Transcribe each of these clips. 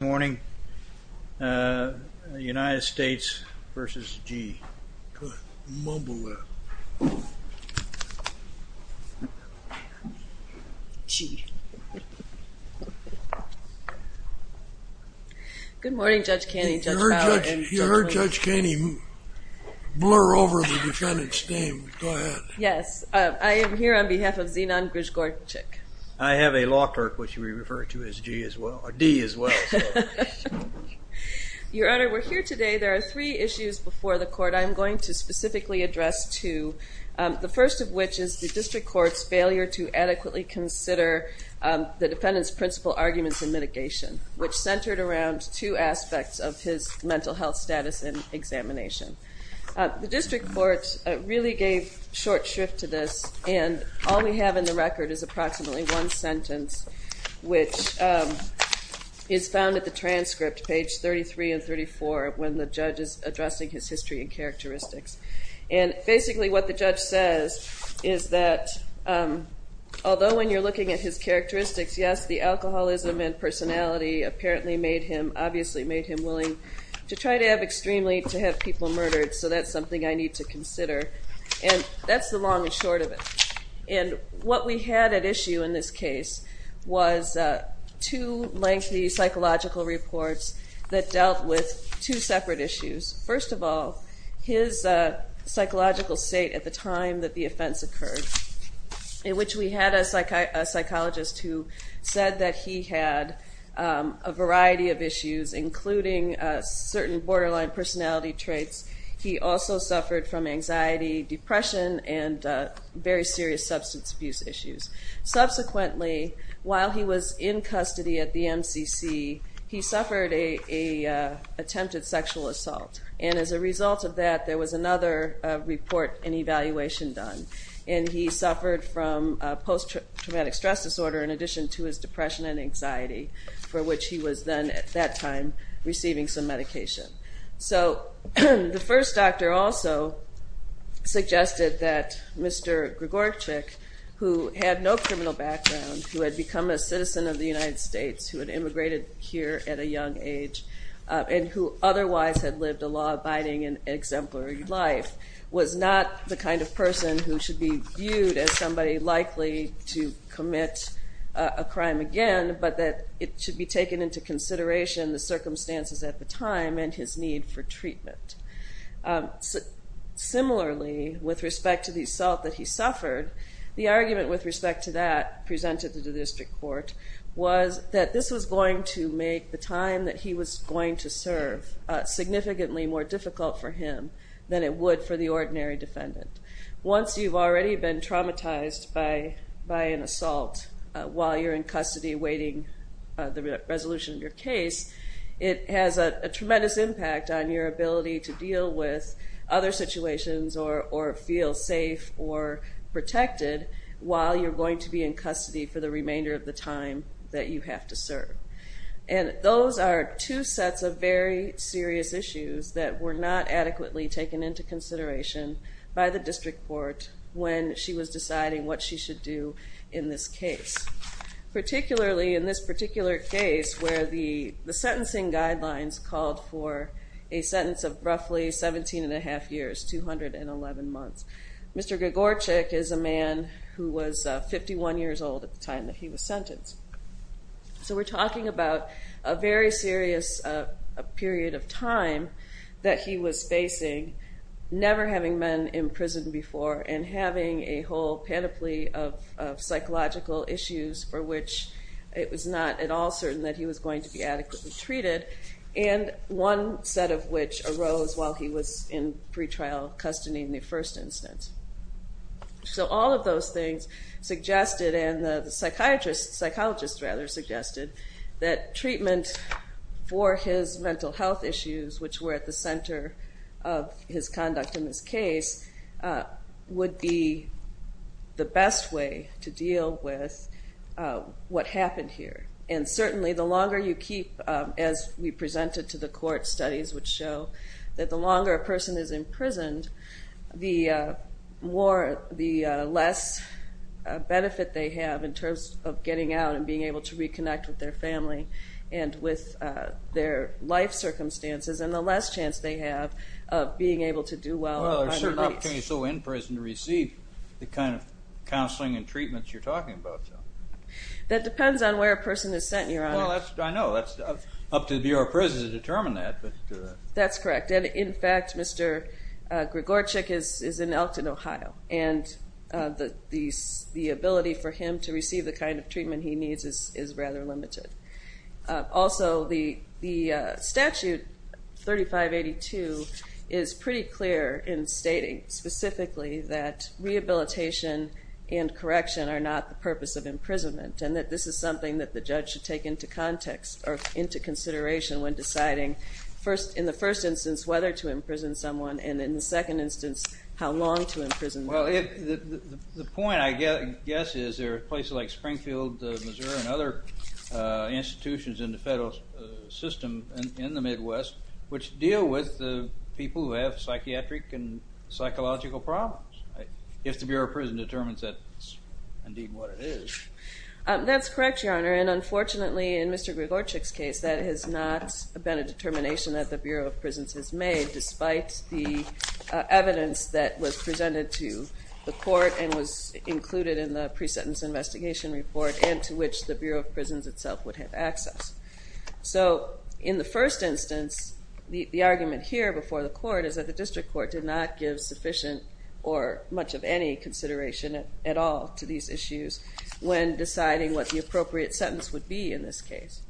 Good morning. United States v. Gee. Go ahead. Mumble that. Gee. Good morning, Judge Caney, Judge Bauer, and Judge Lilley. You heard Judge Caney blur over the defendant's name. Go ahead. Yes. I am here on behalf of Zenon Grzegorczyk. I have a law clerk, which we refer to as Gee as well, or Dee as well. Your Honor, we're here today. There are three issues before the court I'm going to specifically address to. The first of which is the district court's failure to adequately consider the defendant's principal arguments in mitigation, which centered around two aspects of his mental health status and examination. The district court really gave short shrift to this, and all we have in the record is approximately one sentence, which is found at the transcript, page 33 and 34, when the judge is addressing his history and characteristics. And basically what the judge says is that, although when you're looking at his characteristics, yes, the alcoholism and personality apparently made him, obviously made him willing to try to have extremely, to have people murdered, so that's something I need to consider. And that's the long and short of it. And what we had at issue in this case was two lengthy psychological reports that dealt with two separate issues. First of all, his psychological state at the time that the offense occurred, in which we had a psychologist who said that he had a variety of issues, including certain borderline personality traits. He also suffered from anxiety, depression, and very serious substance abuse issues. Subsequently, while he was in custody at the MCC, he suffered an attempted sexual assault. And as a result of that, there was another report and evaluation done. And he suffered from post-traumatic stress disorder in addition to his depression and anxiety, for which he was then, at that time, receiving some medication. So the first doctor also suggested that Mr. Gregorczyk, who had no criminal background, who had become a citizen of the United States, who had immigrated here at a young age, and who otherwise had lived a law-abiding and exemplary life, was not the kind of person who should be viewed as somebody likely to commit a crime again, but that it should be taken into consideration the circumstances at the time and his need for treatment. Similarly, with respect to the assault that he suffered, the argument with respect to that presented to the district court was that this was going to make the time that he was going to serve significantly more difficult for him than it would for the ordinary defendant. Once you've already been traumatized by an assault while you're in custody awaiting the resolution of your case, it has a tremendous impact on your ability to deal with other situations or feel safe or protected while you're going to be in custody for the remainder of the time that you have to serve. And those are two sets of very serious issues that were not adequately taken into consideration by the district court when she was deciding what she should do in this case. Particularly in this particular case where the sentencing guidelines called for a sentence of roughly 17 and a half years, 211 months. Mr. Gagorczyk is a man who was 51 years old at the time that he was sentenced. So we're talking about a very serious period of time that he was facing, never having been in prison before and having a whole panoply of psychological issues for which it was not at all certain that he was going to be adequately treated and one set of which arose while he was in pre-trial custody in the first instance. So all of those things suggested and the psychologist suggested that treatment for his mental health issues, which were at the center of his conduct in this case, would be the best way to deal with what happened here. And certainly the longer you keep, as we presented to the court, studies which show that the longer a person is imprisoned, the less benefit they have in terms of getting out and being able to reconnect with their family and with their life circumstances and the less chance they have of being able to do well. Well, there's certain opportunities in prison to receive the kind of counseling and treatments you're talking about. That depends on where a person is sent, Your Honor. Well, I know. It's up to the Bureau of Prisons to determine that. That's correct. And in fact, Mr. Gagorczyk is in Elkton, Ohio, and the ability for him to receive the kind of treatment he needs is rather limited. Also, the statute 3582 is pretty clear in stating specifically that rehabilitation and correction are not the purpose of imprisonment and that this is something that the judge should take into context or into consideration when deciding, in the first instance, whether to imprison someone, and in the second instance, how long to imprison them. Well, the point, I guess, is there are places like Springfield, Missouri, and other institutions in the federal system in the Midwest which deal with the people who have psychiatric and psychological problems. If the Bureau of Prisons determines that's indeed what it is. That's correct, Your Honor, and unfortunately, in Mr. Gagorczyk's case, that has not been a determination that the Bureau of Prisons has made, despite the evidence that was presented to the court and was included in the pre-sentence investigation report and to which the Bureau of Prisons itself would have access. So, in the first instance, the argument here before the court is that the district court did not give sufficient or much of any consideration at all to these issues when deciding what the appropriate sentence would be in this case.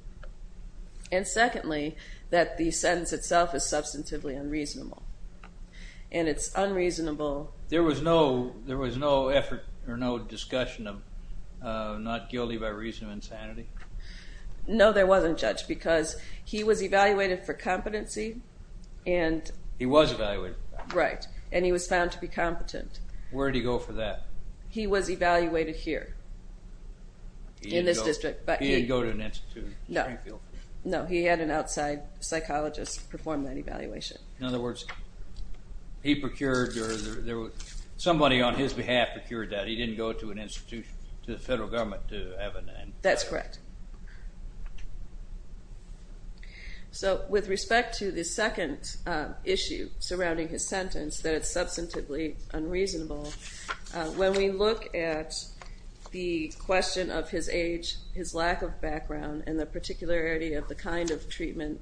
And secondly, that the sentence itself is substantively unreasonable, and it's unreasonable... There was no effort or no discussion of not guilty by reason of insanity? No, there wasn't, Judge, because he was evaluated for competency and... He was evaluated. Right, and he was found to be competent. Where did he go for that? He was evaluated here, in this district, but he... He didn't go to an institute in Springfield? No, he had an outside psychologist perform that evaluation. In other words, he procured, or somebody on his behalf procured that. He didn't go to an institution, to the federal government to have an... That's correct. So, with respect to the second issue surrounding his sentence, that it's substantively unreasonable, when we look at the question of his age, his lack of background, and the particularity of the kind of treatment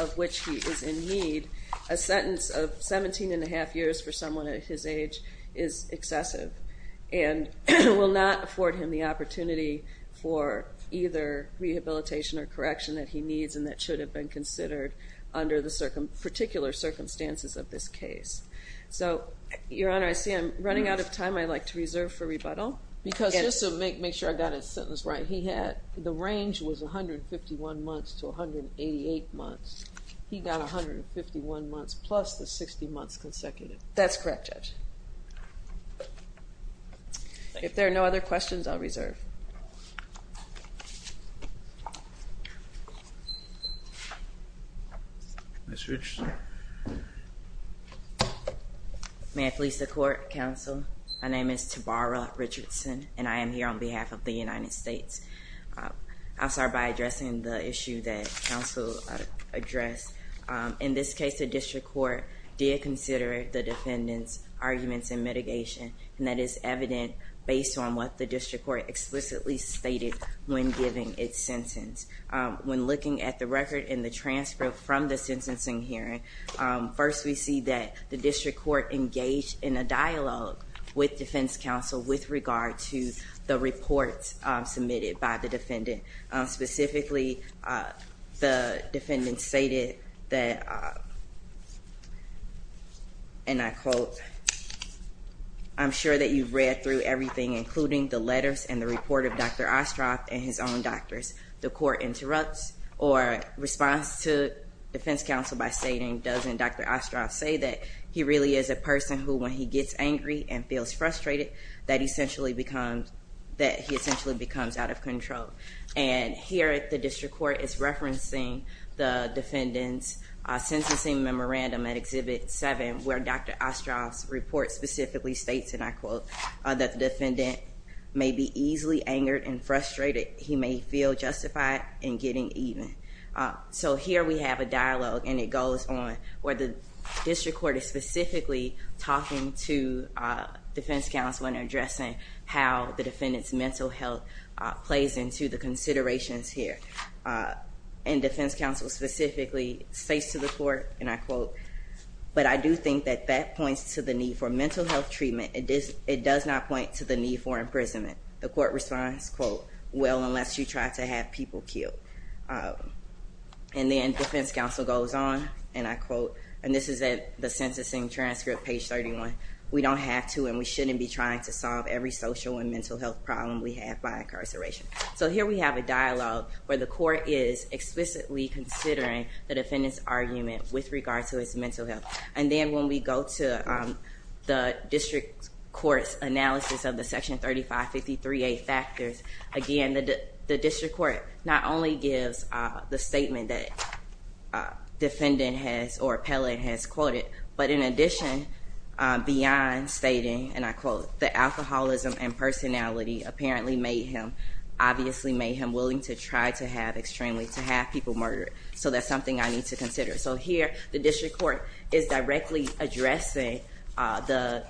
of which he is in need, a sentence of 17 1⁄2 years for someone at his age is excessive and will not afford him the opportunity for either rehabilitation or correction that he needs and that should have been considered under the particular circumstances of this case. So, Your Honor, I see I'm running out of time. I'd like to reserve for rebuttal. Because, just to make sure I got his sentence right, he had... The range was 151 months to 188 months. He got 151 months plus the 60 months consecutive. That's correct, Judge. If there are no other questions, I'll reserve. Ms. Richardson. May I please support, counsel? My name is Tabara Richardson, and I am here on behalf of the United States. I'll start by addressing the issue that counsel addressed. In this case, the district court did consider the defendant's arguments in mitigation, and that is evident based on what the district court explicitly stated when giving its sentence. When looking at the record and the transcript from the sentencing hearing, first we see that the district court engaged in a dialogue with defense counsel Specifically, the defendant stated that, and I quote, I'm sure that you've read through everything, including the letters and the report of Dr. Ostroff and his own doctors. The court interrupts or responds to defense counsel by stating, doesn't Dr. Ostroff say that he really is a person who, when he gets angry and feels frustrated, that he essentially becomes out of control. And here the district court is referencing the defendant's sentencing memorandum at Exhibit 7, where Dr. Ostroff's report specifically states, and I quote, that the defendant may be easily angered and frustrated. He may feel justified in getting even. So here we have a dialogue, and it goes on, where the district court is specifically talking to defense counsel and addressing how the defendant's mental health plays into the considerations here. And defense counsel specifically states to the court, and I quote, but I do think that that points to the need for mental health treatment. It does not point to the need for imprisonment. The court responds, quote, well, unless you try to have people killed. And then defense counsel goes on, and I quote, and this is at the sentencing transcript, page 31, we don't have to and we shouldn't be trying to solve every social and mental health problem we have by incarceration. So here we have a dialogue where the court is explicitly considering the defendant's argument with regard to his mental health. And then when we go to the district court's analysis of the Section 3553A factors, again, the district court not only gives the statement that defendant has or appellate has quoted, but in addition, beyond stating, and I quote, the alcoholism and personality apparently made him, obviously made him willing to try to have extremely, to have people murdered, so that's something I need to consider. So here the district court is directly addressing the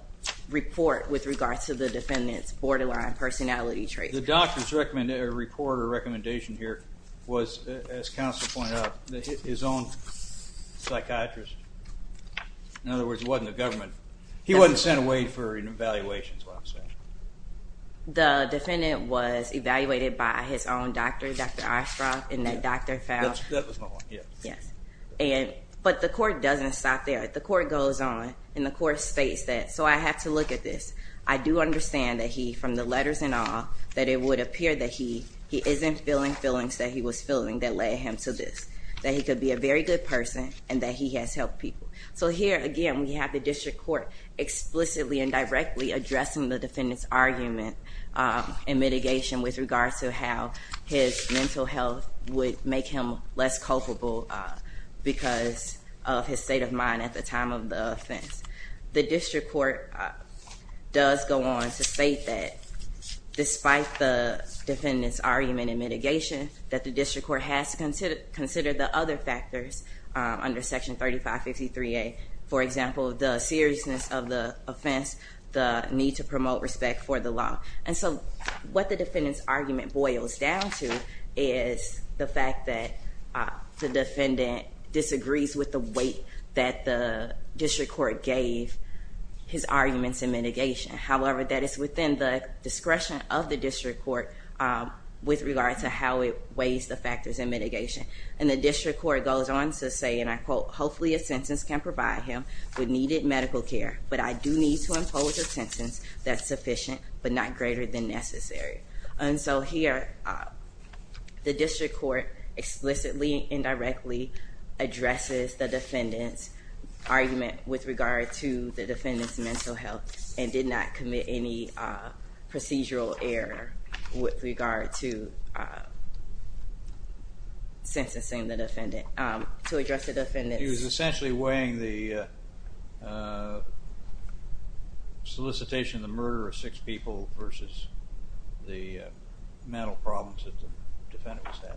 report with regard to the defendant's borderline personality traits. The doctor's report or recommendation here was, as counsel pointed out, his own psychiatrist. In other words, it wasn't the government. He wasn't sent away for an evaluation, is what I'm saying. The defendant was evaluated by his own doctor, Dr. Ostroff, and that doctor found— That was my one, yes. Yes. But the court doesn't stop there. The court goes on, and the court states that, so I have to look at this. I do understand that he, from the letters and all, that it would appear that he isn't feeling feelings that he was feeling that led him to this, that he could be a very good person and that he has helped people. So here, again, we have the district court explicitly and directly addressing the defendant's argument and mitigation with regard to how his mental health would make him less culpable because of his state of mind at the time of the offense. The district court does go on to state that, despite the defendant's argument and mitigation, that the district court has to consider the other factors under Section 3553A, for example, the seriousness of the offense, the need to promote respect for the law. And so what the defendant's argument boils down to is the fact that the defendant disagrees with the weight that the district court gave his arguments in mitigation. However, that is within the discretion of the district court with regard to how it weighs the factors in mitigation. And the district court goes on to say, and I quote, hopefully a sentence can provide him with needed medical care, but I do need to impose a sentence that's sufficient but not greater than necessary. And so here, the district court explicitly and directly addresses the defendant's argument with regard to the defendant's mental health and did not commit any procedural error with regard to sentencing the defendant, to address the defendant's... mental problems that the defendant was having.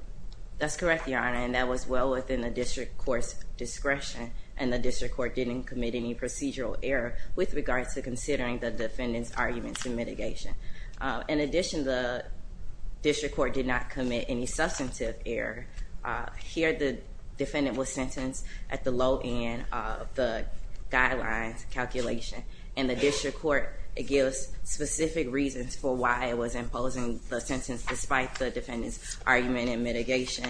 That's correct, Your Honor, and that was well within the district court's discretion and the district court didn't commit any procedural error with regard to considering the defendant's arguments in mitigation. In addition, the district court did not commit any substantive error. Here, the defendant was sentenced at the low end of the guidelines calculation and the district court gives specific reasons for why it was imposing the sentence despite the defendant's argument in mitigation.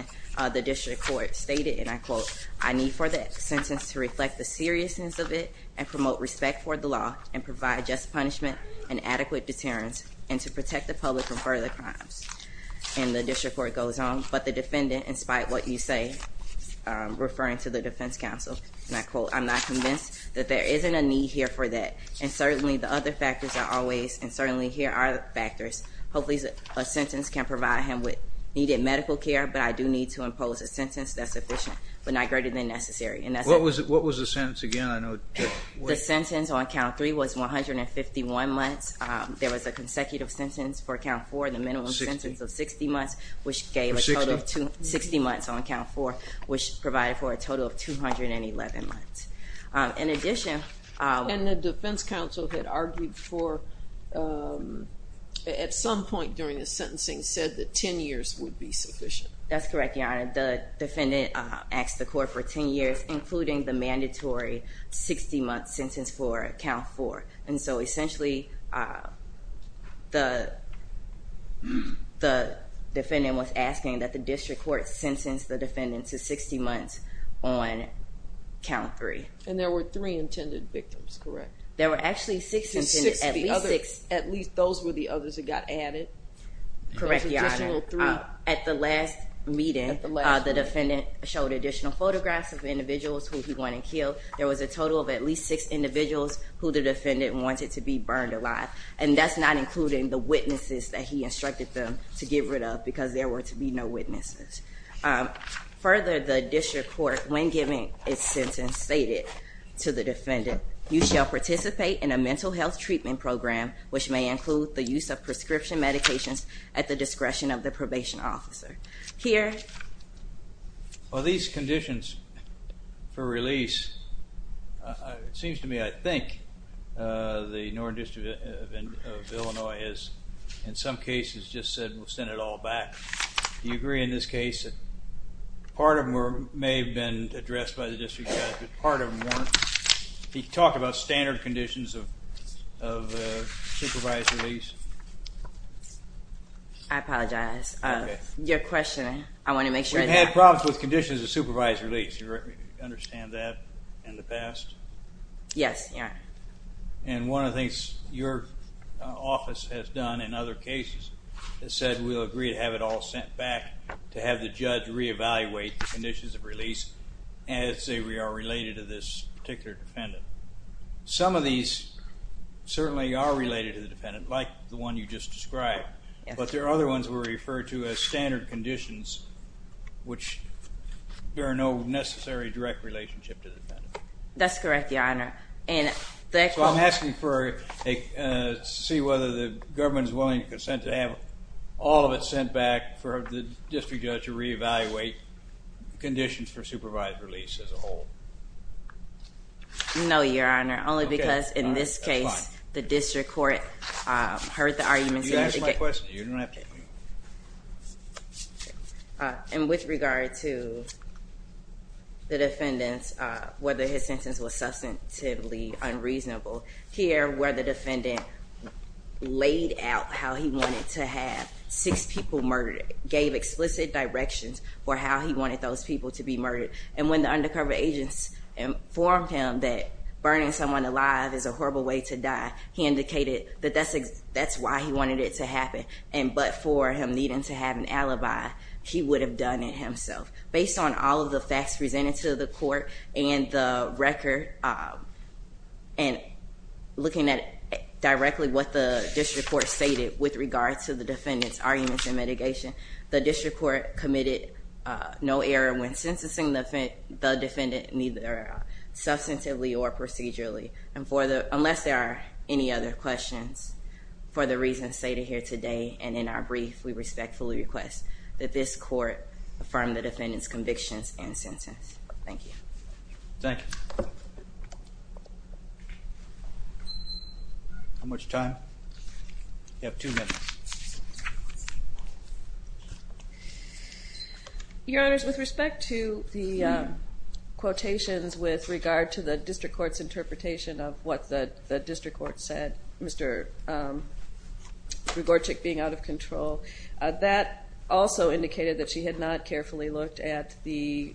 The district court stated, and I quote, I need for that sentence to reflect the seriousness of it and promote respect for the law and provide just punishment and adequate deterrence and to protect the public from further crimes. And the district court goes on, but the defendant, in spite of what you say, referring to the defense counsel, and I quote, I'm not convinced that there isn't a need here for that and certainly the other factors are always, and certainly here are the factors. Hopefully a sentence can provide him with needed medical care, but I do need to impose a sentence that's sufficient but not greater than necessary. What was the sentence again? The sentence on count three was 151 months. There was a consecutive sentence for count four, the minimum sentence of 60 months, which gave a total of 60 months on count four, which provided for a total of 211 months. In addition- And the defense counsel had argued for, at some point during the sentencing, said that 10 years would be sufficient. That's correct, Your Honor. The defendant asked the court for 10 years, including the mandatory 60-month sentence for count four. And so essentially the defendant was asking that the district court sentence the defendant to 60 months on count three. And there were three intended victims, correct? There were actually six- At least those were the others that got added? Correct, Your Honor. At the last meeting, the defendant showed additional photographs of individuals who he wanted killed. There was a total of at least six individuals who the defendant wanted to be burned alive, and that's not including the witnesses that he instructed them to get rid of because there were to be no witnesses. Further, the district court, when giving its sentence, stated to the defendant, you shall participate in a mental health treatment program, which may include the use of prescription medications at the discretion of the probation officer. Here- Well, these conditions for release, it seems to me, I think, the Northern District of Illinois has in some cases just said we'll send it all back. Do you agree in this case that part of them may have been addressed by the district judge, but part of them weren't? He talked about standard conditions of supervised release. I apologize. Your question, I want to make sure- We've had problems with conditions of supervised release. Do you understand that in the past? Yes, Your Honor. And one of the things your office has done in other cases has said we'll agree to have it all sent back to have the judge reevaluate the conditions of release as they are related to this particular defendant. Some of these certainly are related to the defendant, like the one you just described, but there are other ones that were referred to as standard conditions, which there are no necessary direct relationship to the defendant. That's correct, Your Honor. So I'm asking to see whether the government is willing to consent to have all of it sent back for the district judge to reevaluate conditions for supervised release as a whole. No, Your Honor. Only because in this case the district court heard the arguments- You can ask my question. You don't have to. And with regard to the defendant, whether his sentence was substantively unreasonable, here where the defendant laid out how he wanted to have six people murdered, gave explicit directions for how he wanted those people to be murdered, and when the undercover agents informed him that burning someone alive is a horrible way to die, he indicated that that's why he wanted it to happen, and but for him needing to have an alibi, he would have done it himself. Based on all of the facts presented to the court and the record, and looking at directly what the district court stated with regard to the defendant's arguments and mitigation, the district court committed no error when sentencing the defendant, neither substantively or procedurally. And unless there are any other questions for the reasons stated here today and in our brief, we respectfully request that this court affirm the defendant's convictions and sentence. Thank you. Thank you. How much time? You have two minutes. Your Honors, with respect to the quotations with regard to the district court's interpretation of what the district court said, Mr. Grigorczyk being out of control, that also indicated that she had not carefully looked at the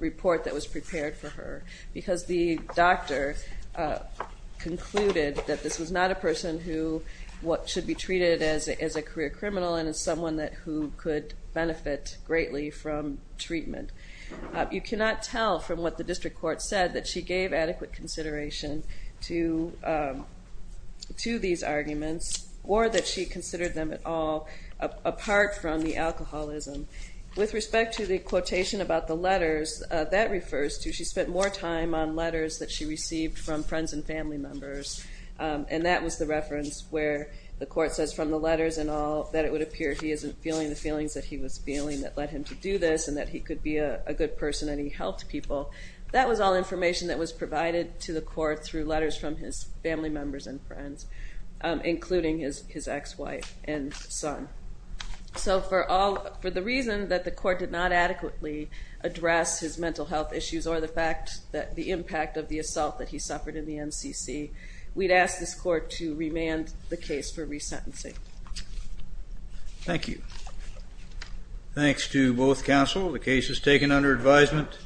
report that was prepared for her, because the doctor concluded that this was not a person who should be treated as a career criminal and as someone who could benefit greatly from treatment. You cannot tell from what the district court said that she gave adequate consideration to these arguments or that she considered them at all apart from the alcoholism. With respect to the quotation about the letters, that refers to she spent more time on letters that she received from friends and family members, and that was the reference where the court says from the letters and all, that it would appear he isn't feeling the feelings that he was feeling that led him to do this and that he could be a good person and he helped people. That was all information that was provided to the court through letters from his family members and friends, including his ex-wife and son. So for the reason that the court did not adequately address his mental health issues or the fact that the impact of the assault that he suffered in the NCC, we'd ask this court to remand the case for resentencing. Thank you. Thanks to both counsel. The case is taken under advisement.